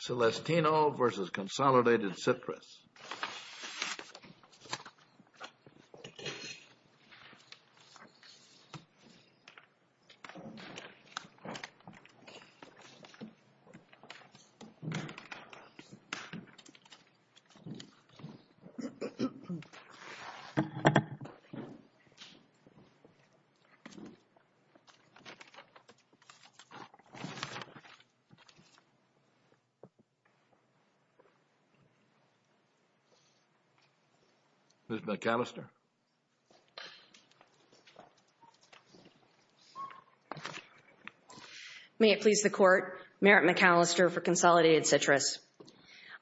Celestino v. Consolidated Citrus Merritt McAllister v. Consolidated Citrus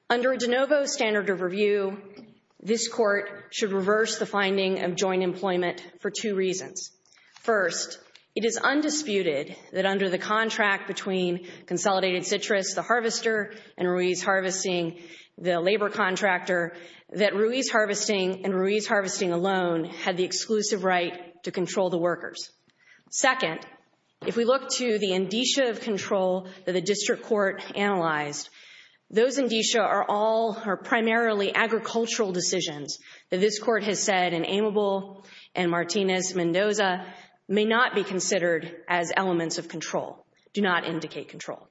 Under De Novo's standard of review, this court should reverse the finding of joint employment for two reasons. First, it is undisputed that under the contract between Consolidated Citrus, the harvester, and Ruiz Harvesting, the labor contractor, that Ruiz Harvesting and Ruiz Harvesting alone had the exclusive right to control the workers. Second, if we look to the indicia of control that the district court analyzed, those indicia are all primarily agricultural decisions that this court has said in Amable and Martinez-Mendoza may not be considered as elements of control, do not indicate control.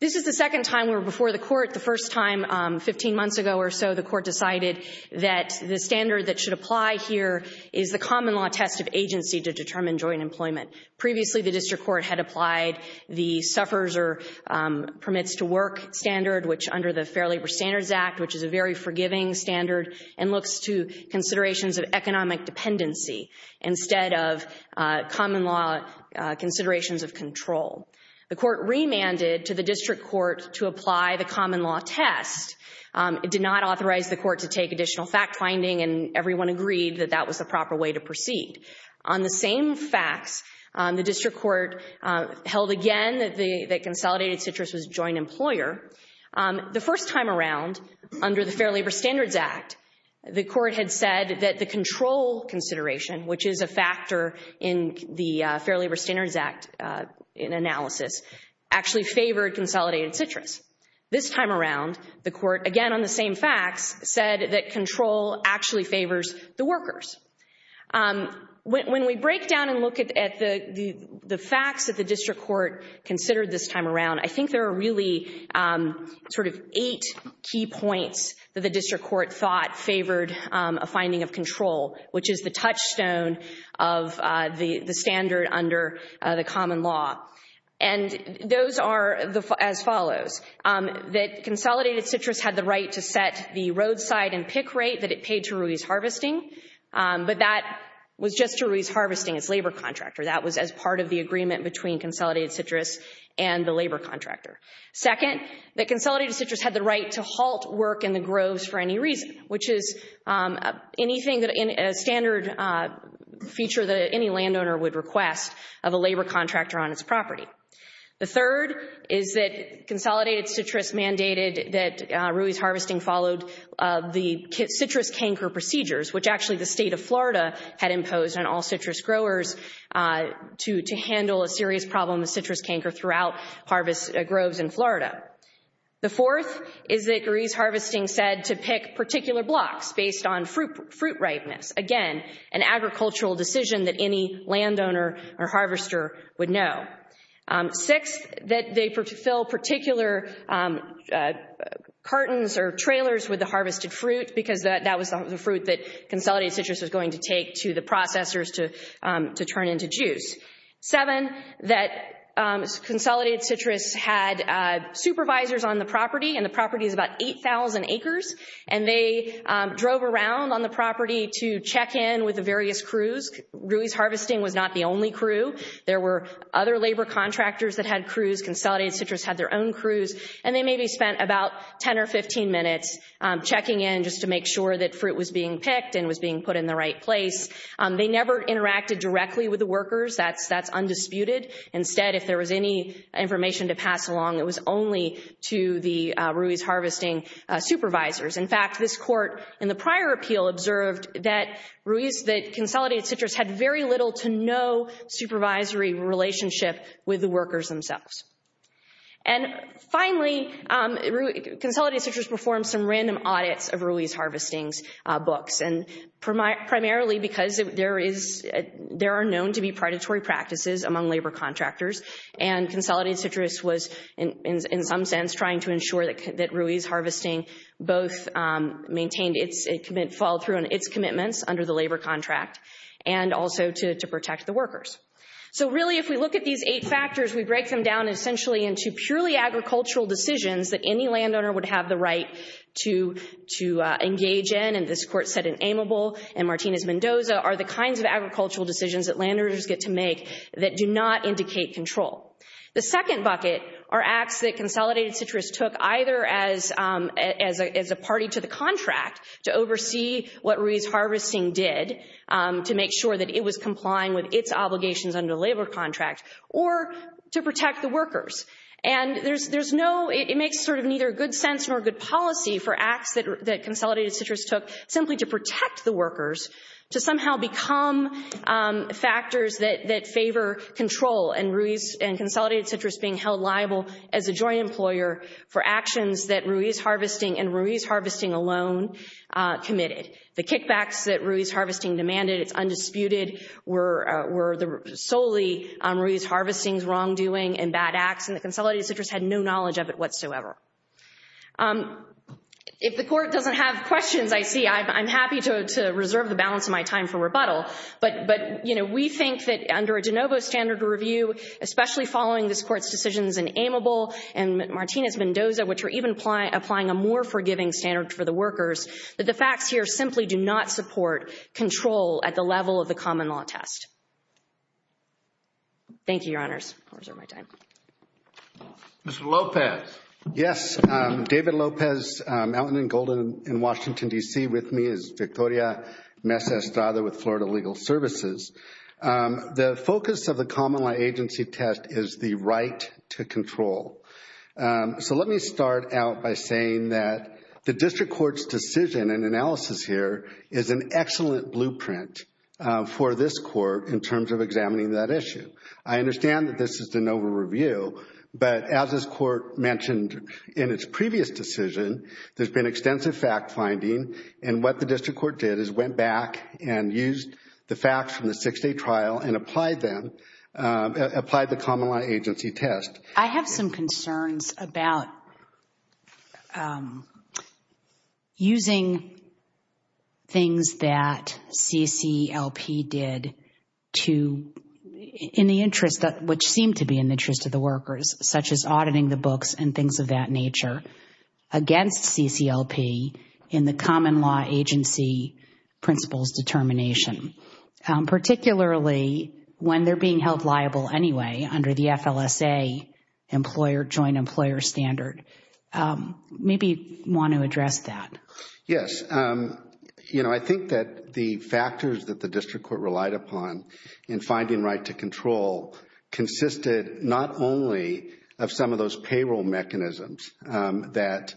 This is the second time we're before the court. The first time, 15 months ago or so, the court decided that the standard that should apply here is the common law test of agency to determine joint employment. Previously, the district court had applied the suffers or permits to work standard, which under the Fair Labor Standards Act, which is a very forgiving standard, and looks to considerations of economic dependency instead of common law considerations of control. The court remanded to the district court to apply the common law test. It did not authorize the court to take additional fact-finding, and everyone agreed that that was the proper way to proceed. On the same facts, the district court held again that Consolidated Citrus was a joint employer. The first time around, under the Fair Labor Standards Act, the court had said that the control consideration, which is a factor in the Fair Labor Standards Act analysis, actually favored Consolidated Citrus. This time around, the court, again on the same facts, said that control actually favors the workers. When we break down and look at the facts that the district court considered this time around, I think there are really sort of eight key points that the district court thought favored a finding of control, which is the touchstone of the standard under the common law, and those are as follows. That Consolidated Citrus had the right to set the roadside and pick rate that it paid to Ruiz Harvesting, but that was just to Ruiz Harvesting, its labor contractor. That was as part of the agreement between Consolidated Citrus and the labor contractor. Second, that Consolidated Citrus had the right to halt work in the groves for any reason, which is a standard feature that any landowner would request of a labor contractor on its property. The third is that Consolidated Citrus mandated that Ruiz Harvesting followed the citrus canker procedures, which actually the state of Florida had imposed on all citrus growers to handle a serious problem of citrus canker throughout harvest groves in Florida. The fourth is that Ruiz Harvesting said to pick particular blocks based on fruit ripeness. Again, an agricultural decision that any landowner or harvester would know. Sixth, that they fill particular cartons or trailers with the harvested fruit, because that was the fruit that Consolidated Citrus was going to take to the processors to turn into juice. Seven, that Consolidated Citrus had supervisors on the property, and the property is about 8,000 acres, and they drove around on the property to check in with the various crews. Ruiz Harvesting was not the only crew. There were other labor contractors that had crews. Consolidated Citrus had their own crews. And they maybe spent about 10 or 15 minutes checking in just to make sure that fruit was being picked and was being put in the right place. They never interacted directly with the workers. That's undisputed. Instead, if there was any information to pass along, it was only to the Ruiz Harvesting supervisors. In fact, this court in the prior appeal observed that Ruiz, that Consolidated Citrus, had very little to no supervisory relationship with the workers themselves. And finally, Consolidated Citrus performed some random audits of Ruiz Harvesting's books, and primarily because there are known to be predatory practices among labor contractors. And Consolidated Citrus was, in some sense, trying to ensure that Ruiz Harvesting both maintained its commitments, followed through on its commitments under the labor contract, and also to protect the workers. So really, if we look at these eight factors, we break them down essentially into purely agricultural decisions that any landowner would have the right to engage in. This court said in Amable and Martinez-Mendoza are the kinds of agricultural decisions that landowners get to make that do not indicate control. The second bucket are acts that Consolidated Citrus took either as a party to the contract to oversee what Ruiz Harvesting did to make sure that it was complying with its obligations under the labor contract, or to protect the workers. And it makes sort of neither good sense nor good policy for acts that Consolidated Citrus took simply to protect the workers, to somehow become factors that favor control and Consolidated Citrus being held liable as a joint employer for actions that Ruiz Harvesting and Ruiz Harvesting alone committed. The kickbacks that Ruiz Harvesting demanded, it's undisputed, were solely Ruiz Harvesting's wrongdoing and bad acts, and that Consolidated Citrus had no knowledge of it whatsoever. If the court doesn't have questions, I see. I'm happy to reserve the balance of my time for rebuttal, but we think that under a de novo standard review, especially following this court's decisions in Amable and Martinez-Mendoza, which are even applying a more forgiving standard for the workers, that the facts here simply do not support control at the level of the common law test. Thank you, Your Honors. I'll reserve my time. Mr. Lopez. Yes. David Lopez, Allenton & Golden in Washington, D.C. With me is Victoria Mez Estrada with Florida Legal Services. The focus of the common law agency test is the right to control. So let me start out by saying that the district court's decision and analysis here is an excellent blueprint for this court in terms of examining that issue. I understand that this is de novo review, but as this court mentioned in its previous decision, there's been extensive fact-finding, and what the district court did is went back and used the facts from the six-day trial and applied them, applied the common law agency test. I have some concerns about using things that CCLP did to, in the interest of, which seemed to be in the interest of the workers, such as auditing the books and things of that nature, against CCLP in the common law agency principles determination, particularly when they're being held liable anyway under the FLSA employer, joint employer standard. Maybe you want to address that. Yes. You know, I think that the factors that the district court relied upon in finding right to control consisted not only of some of those payroll mechanisms that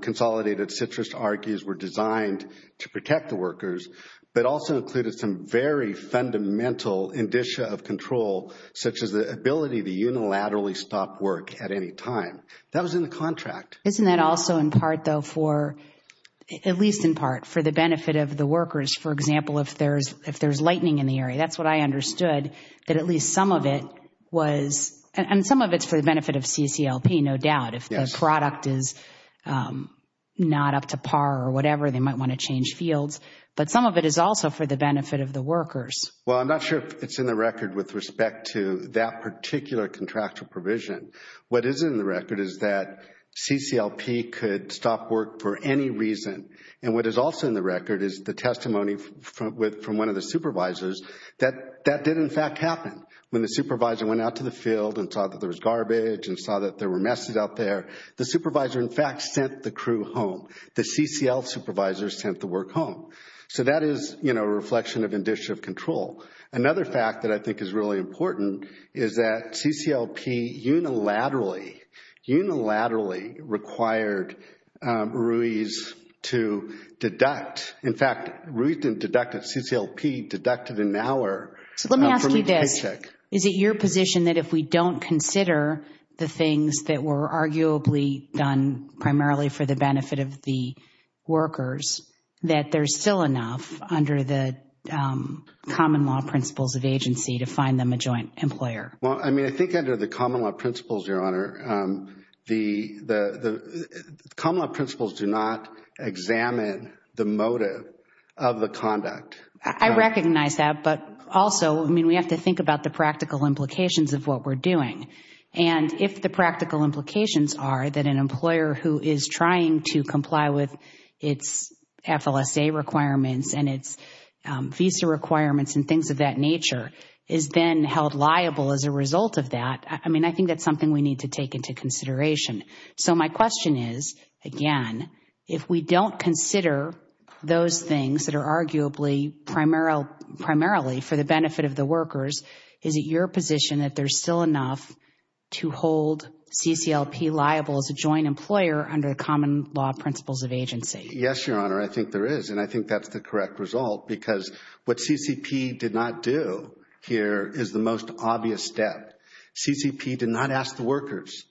consolidated citrus argues were designed to protect the workers, but also included some very fundamental indicia of control, such as the ability to unilaterally stop work at any time. That was in the contract. Isn't that also in part, though, for, at least in part, for the benefit of the workers? For example, if there's lightning in the area, that's what I understood, that at least some of it was, and some of it's for the benefit of CCLP, no doubt. If the product is not up to par or whatever, they might want to change fields. But some of it is also for the benefit of the workers. Well, I'm not sure if it's in the record with respect to that particular contractual provision. What is in the record is that CCLP could stop work for any reason. And what is also in the record is the testimony from one of the supervisors that that did, in fact, happen. When the supervisor went out to the field and saw that there was garbage and saw that there were messes out there, the supervisor, in fact, sent the crew home. The CCL supervisor sent the work home. So that is, you know, a reflection of initiative control. Another fact that I think is really important is that CCLP unilaterally, unilaterally required Ruiz to deduct. In fact, Ruiz didn't deduct at CCLP, deducted an hour from his paycheck. So let me ask you this. Is it your position that if we don't consider the things that were arguably done primarily for the benefit of the workers, that there's still enough under the common law principles of agency to find them a joint employer? Well, I mean, I think under the common law principles, Your Honor, the common law principles do not examine the motive of the conduct. I recognize that, but also, I mean, we have to think about the practical implications of what we're doing. And if the practical implications are that an employer who is trying to comply with its FLSA requirements and its visa requirements and things of that nature is then held liable as a result of that, I mean, I think that's something we need to take into consideration. So my question is, again, if we don't consider those things that are arguably primarily for the benefit of the workers, is it your position that there's still enough to hold CCLP liable as a joint employer under the common law principles of agency? Yes, Your Honor, I think there is, and I think that's the correct result because what CCP did not do here is the most obvious step. CCP did not ask the workers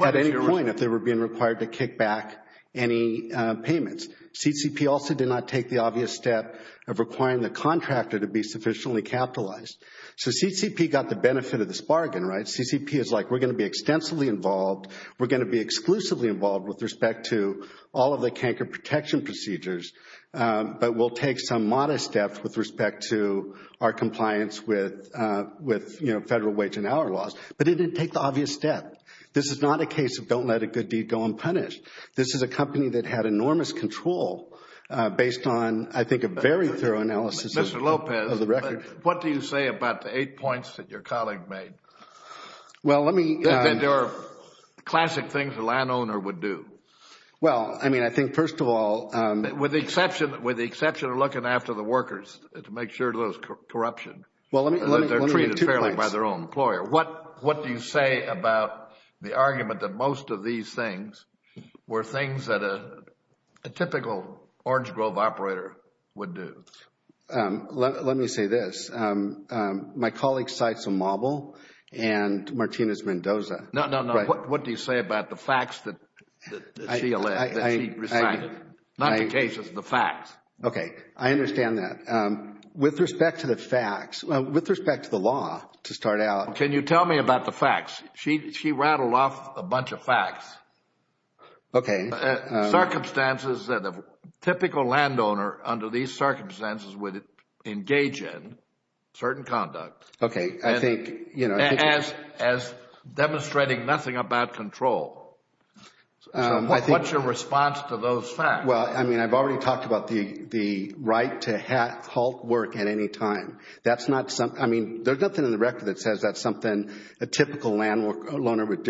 at any point if they were being required to kick back any payments. CCP also did not take the obvious step of requiring the contractor to be sufficiently capitalized. So CCP got the benefit of this bargain, right? CCP is like, we're going to be extensively involved, we're going to be exclusively involved with respect to all of the canker protection procedures, but we'll take some modest steps with respect to our compliance with federal wage and hour laws. But it didn't take the obvious step. This is not a case of don't let a good deed go unpunished. This is a company that had enormous control based on, I think, a very thorough analysis of the record. Mr. Lopez, what do you say about the eight points that your colleague made? There are classic things a landowner would do. Well, I mean, I think first of all— With the exception of looking after the workers to make sure of those corruption. Well, let me— They're treated fairly by their own employer. What do you say about the argument that most of these things were things that a typical Orange Grove operator would do? Let me say this. My colleague cites a model and Martinez-Mendoza. No, no, no. What do you say about the facts that she recited? Not the cases, the facts. Okay. I understand that. With respect to the facts, with respect to the law to start out— Can you tell me about the facts? She rattled off a bunch of facts. Okay. Circumstances that a typical landowner, under these circumstances, would engage in certain conduct. Okay, I think— As demonstrating nothing about control. So what's your response to those facts? Well, I mean, I've already talked about the right to halt work at any time. That's not—I mean, there's nothing in the record that says that's something a typical landowner would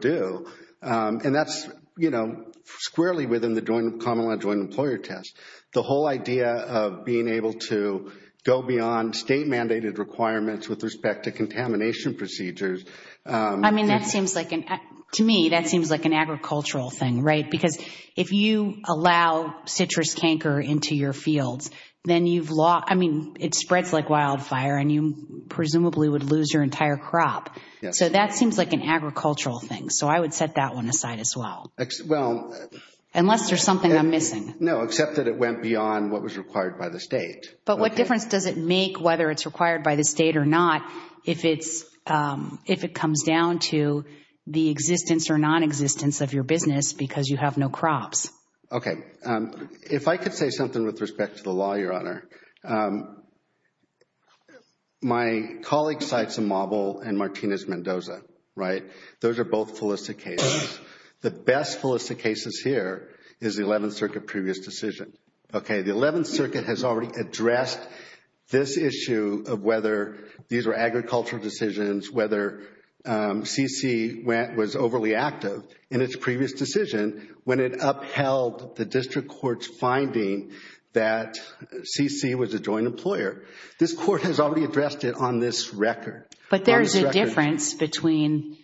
do, and that's, you know, squarely within the Common Land Joint Employer Test. The whole idea of being able to go beyond state-mandated requirements with respect to contamination procedures— I mean, that seems like an—to me, that seems like an agricultural thing, right? Because if you allow citrus canker into your fields, then you've lost— So that seems like an agricultural thing. So I would set that one aside as well. Unless there's something I'm missing. No, except that it went beyond what was required by the state. But what difference does it make whether it's required by the state or not if it comes down to the existence or nonexistence of your business because you have no crops? If I could say something with respect to the law, Your Honor. My colleague cites Amauble and Martinez-Mendoza, right? Those are both felicitous cases. The best felicitous cases here is the 11th Circuit previous decision. Okay, the 11th Circuit has already addressed this issue of whether these are agricultural decisions, whether CC was overly active in its previous decision when it upheld the district court's finding that CC was a joint employer. This court has already addressed it on this record. But there's a difference between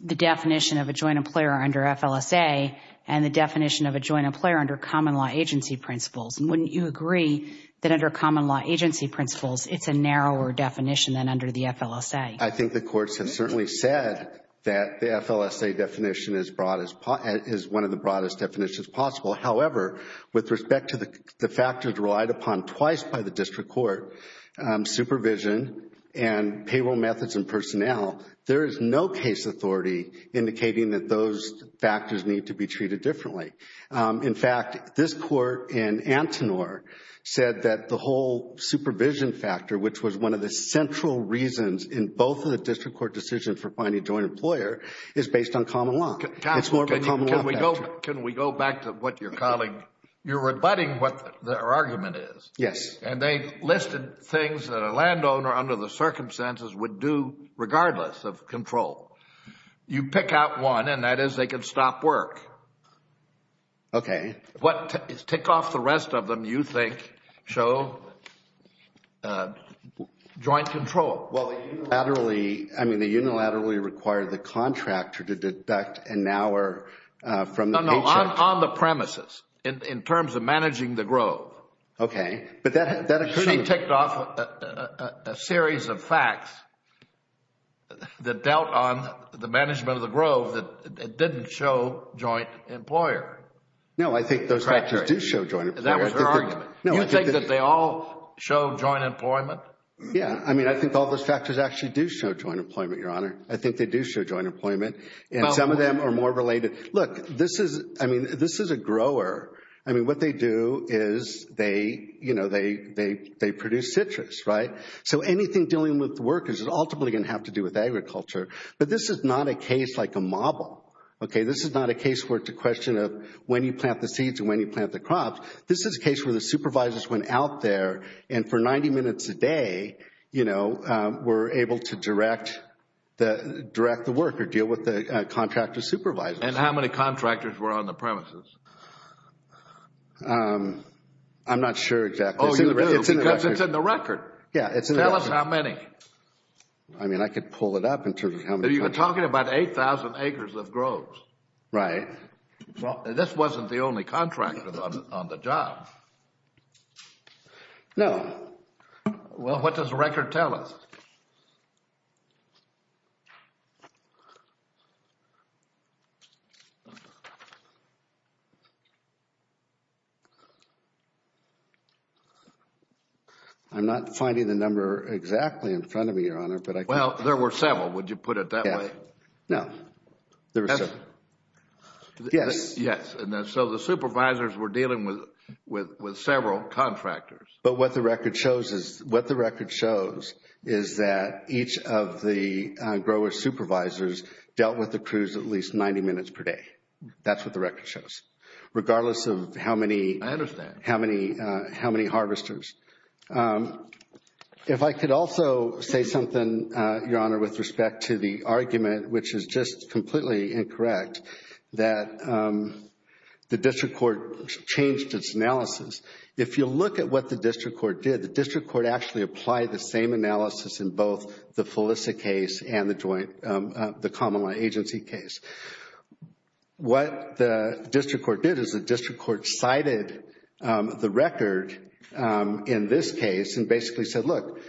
the definition of a joint employer under FLSA and the definition of a joint employer under common law agency principles. Wouldn't you agree that under common law agency principles, it's a narrower definition than under the FLSA? I think the courts have certainly said that the FLSA definition is one of the broadest definitions possible. However, with respect to the factors relied upon twice by the district court, supervision and payroll methods and personnel, there is no case authority indicating that those factors need to be treated differently. In fact, this court in Antinor said that the whole supervision factor, which was one of the central reasons in both of the district court decisions for finding a joint employer, is based on common law. Can we go back to what your colleague... You're rebutting what their argument is. Yes. And they listed things that a landowner under the circumstances would do regardless of control. You pick out one, and that is they could stop work. Okay. What tick off the rest of them you think show joint control? Well, unilaterally, I mean, they unilaterally require the contractor to deduct an hour from the paycheck. No, no, on the premises, in terms of managing the grove. Okay. She ticked off a series of facts that dealt on the management of the grove that didn't show joint employer. No, I think those factors do show joint employer. That was her argument. You think that they all show joint employment? Yes. I mean, I think all those factors actually do show joint employment, Your Honor. I think they do show joint employment. And some of them are more related. Look, this is a grower. I mean, what they do is they produce citrus, right? So anything dealing with workers is ultimately going to have to do with agriculture. But this is not a case like a model, okay? This is not a case where it's a question of when you plant the seeds and when you plant the crops. This is a case where the supervisors went out there and for 90 minutes a day, were able to direct the worker, deal with the contractor supervisor. And how many contractors were on the premises? I'm not sure exactly. Oh, you do? Because it's in the record. Yeah, it's in the record. Tell us how many. I mean, I could pull it up in terms of how many. You're talking about 8,000 acres of groves. Right. This wasn't the only contractor on the job. No. Well, what does the record tell us? I'm not finding the number exactly in front of me, Your Honor. Well, there were several. Would you put it that way? No. There were several. Yes. Yes. And so the supervisors were dealing with several contractors. But what the record shows is that each of the grower supervisors dealt with the crews at least 90 minutes per day. That's what the record shows. I understand. Regardless of how many harvesters. If I could also say something, Your Honor, with respect to the argument, which is just completely incorrect, that the district court changed its analysis. If you look at what the district court did, the district court actually applied the same analysis in both the Felisa case and the common law agency case. What the district court did is the district court cited the record in this case and basically said, look,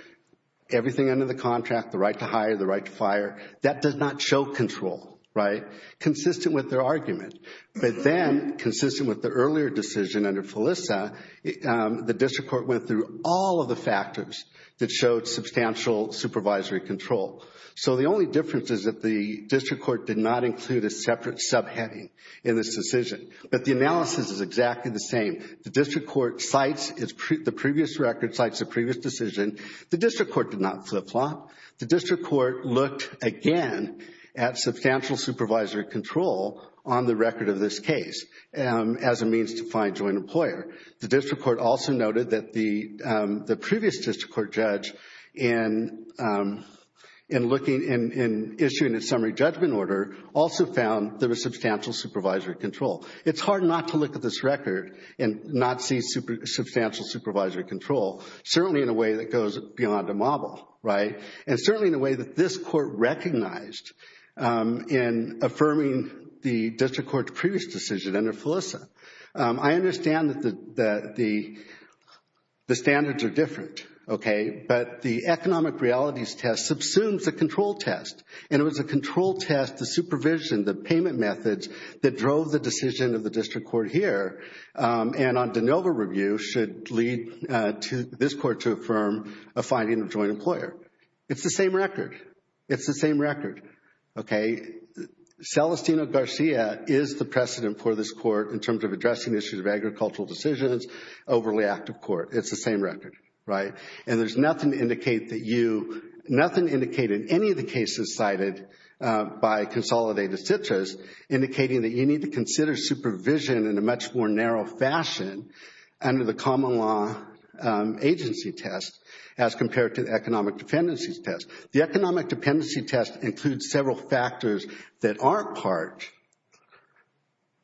everything under the contract, the right to hire, the right to fire, that does not show control, right, consistent with their argument. But then, consistent with the earlier decision under Felisa, the district court went through all of the factors that showed substantial supervisory control. So the only difference is that the district court did not include a separate subheading in this decision. But the analysis is exactly the same. The district court cites the previous record, cites the previous decision. The district court did not flip-flop. The district court looked again at substantial supervisory control on the record of this case as a means to find joint employer. The district court also noted that the previous district court judge in looking and issuing a summary judgment order also found there was substantial supervisory control. It's hard not to look at this record and not see substantial supervisory control, certainly in a way that goes beyond a model, right, and certainly in a way that this court recognized in affirming the district court's previous decision under Felisa. I understand that the standards are different, okay, but the economic realities test subsumes the control test, and it was a control test, the supervision, the payment methods that drove the decision of the district court here and on de novo review should lead this court to affirm a finding of joint employer. It's the same record. It's the same record, okay. Celestino Garcia is the precedent for this court in terms of addressing issues of agricultural decisions, overly active court. It's the same record, right. And there's nothing to indicate that you, nothing to indicate in any of the cases cited by Consolidated Citrus indicating that you need to consider supervision in a much more narrow fashion under the common law agency test as compared to the economic dependencies test. The economic dependency test includes several factors that aren't part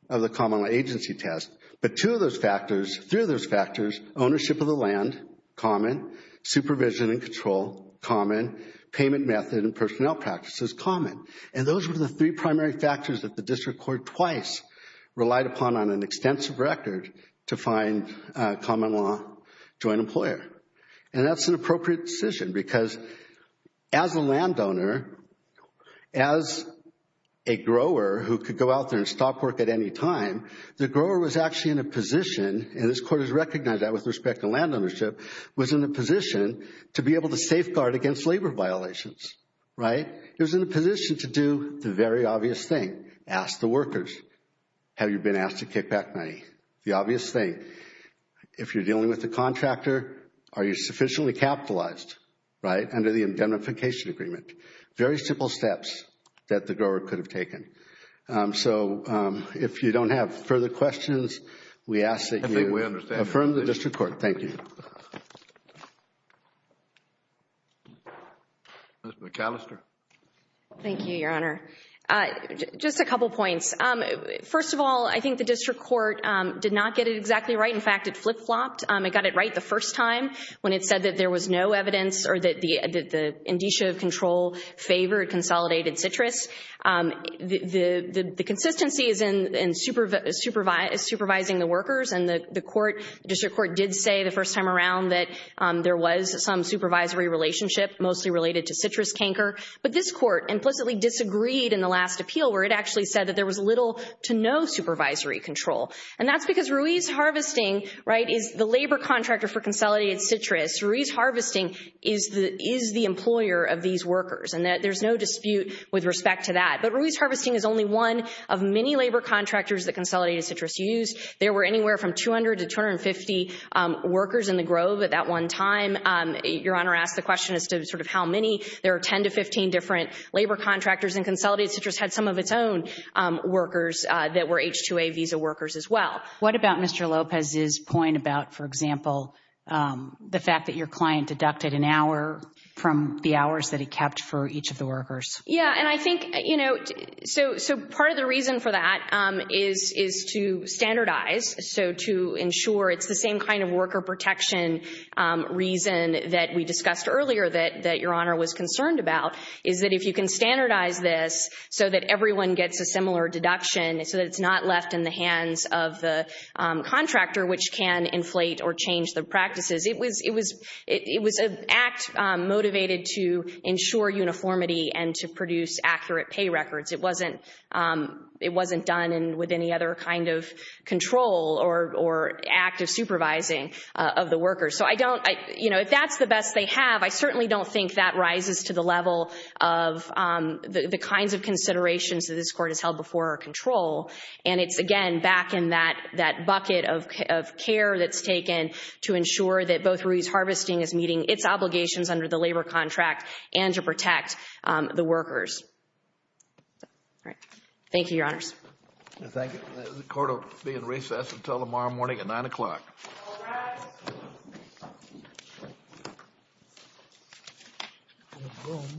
of the common law agency test, but two of those factors, three of those factors, ownership of the land, common, supervision and control, common, payment method and personnel practices, common. And those were the three primary factors that the district court twice relied upon on an extensive record to find common law joint employer. And that's an appropriate decision because as a landowner, as a grower who could go out there and stop work at any time, the grower was actually in a position, and this court has recognized that with respect to land ownership, was in a position to be able to safeguard against labor violations, right. It was in a position to do the very obvious thing, ask the workers, have you been asked to kick back money? The obvious thing, if you're dealing with a contractor, are you sufficiently capitalized, right, under the indemnification agreement? Very simple steps that the grower could have taken. So if you don't have further questions, we ask that you affirm the district court. Thank you. Ms. McAllister. Thank you, Your Honor. Just a couple points. First of all, I think the district court did not get it exactly right. In fact, it flip-flopped. It got it right the first time when it said that there was no evidence or that the indicia of control favored consolidated citrus. The consistency is in supervising the workers, and the district court did say the first time around that there was some supervisory relationship mostly related to citrus canker. But this court implicitly disagreed in the last appeal where it actually said that there was little to no supervisory control, and that's because Ruiz Harvesting is the labor contractor for consolidated citrus. Ruiz Harvesting is the employer of these workers, and there's no dispute with respect to that. But Ruiz Harvesting is only one of many labor contractors that consolidated citrus use. There were anywhere from 200 to 250 workers in the grove at that one time. Your Honor asked the question as to sort of how many. There are 10 to 15 different labor contractors, and consolidated citrus had some of its own workers that were H-2A visa workers as well. What about Mr. Lopez's point about, for example, the fact that your client deducted an hour from the hours that he kept for each of the workers? Yeah, and I think, you know, so part of the reason for that is to standardize, so to ensure it's the same kind of worker protection reason that we discussed earlier that Your Honor was concerned about, is that if you can standardize this so that everyone gets a similar deduction, so that it's not left in the hands of the contractor, which can inflate or change the practices. It was an act motivated to ensure uniformity and to produce accurate pay records. It wasn't done with any other kind of control or active supervising of the workers. So I don't, you know, if that's the best they have, I certainly don't think that rises to the level of the kinds of considerations that this Court has held before our control. And it's, again, back in that bucket of care that's taken to ensure that both Ruiz Harvesting is meeting its obligations under the labor contract and to protect the workers. Thank you, Your Honors. Thank you. The Court will be in recess until tomorrow morning at 9 o'clock. All rise.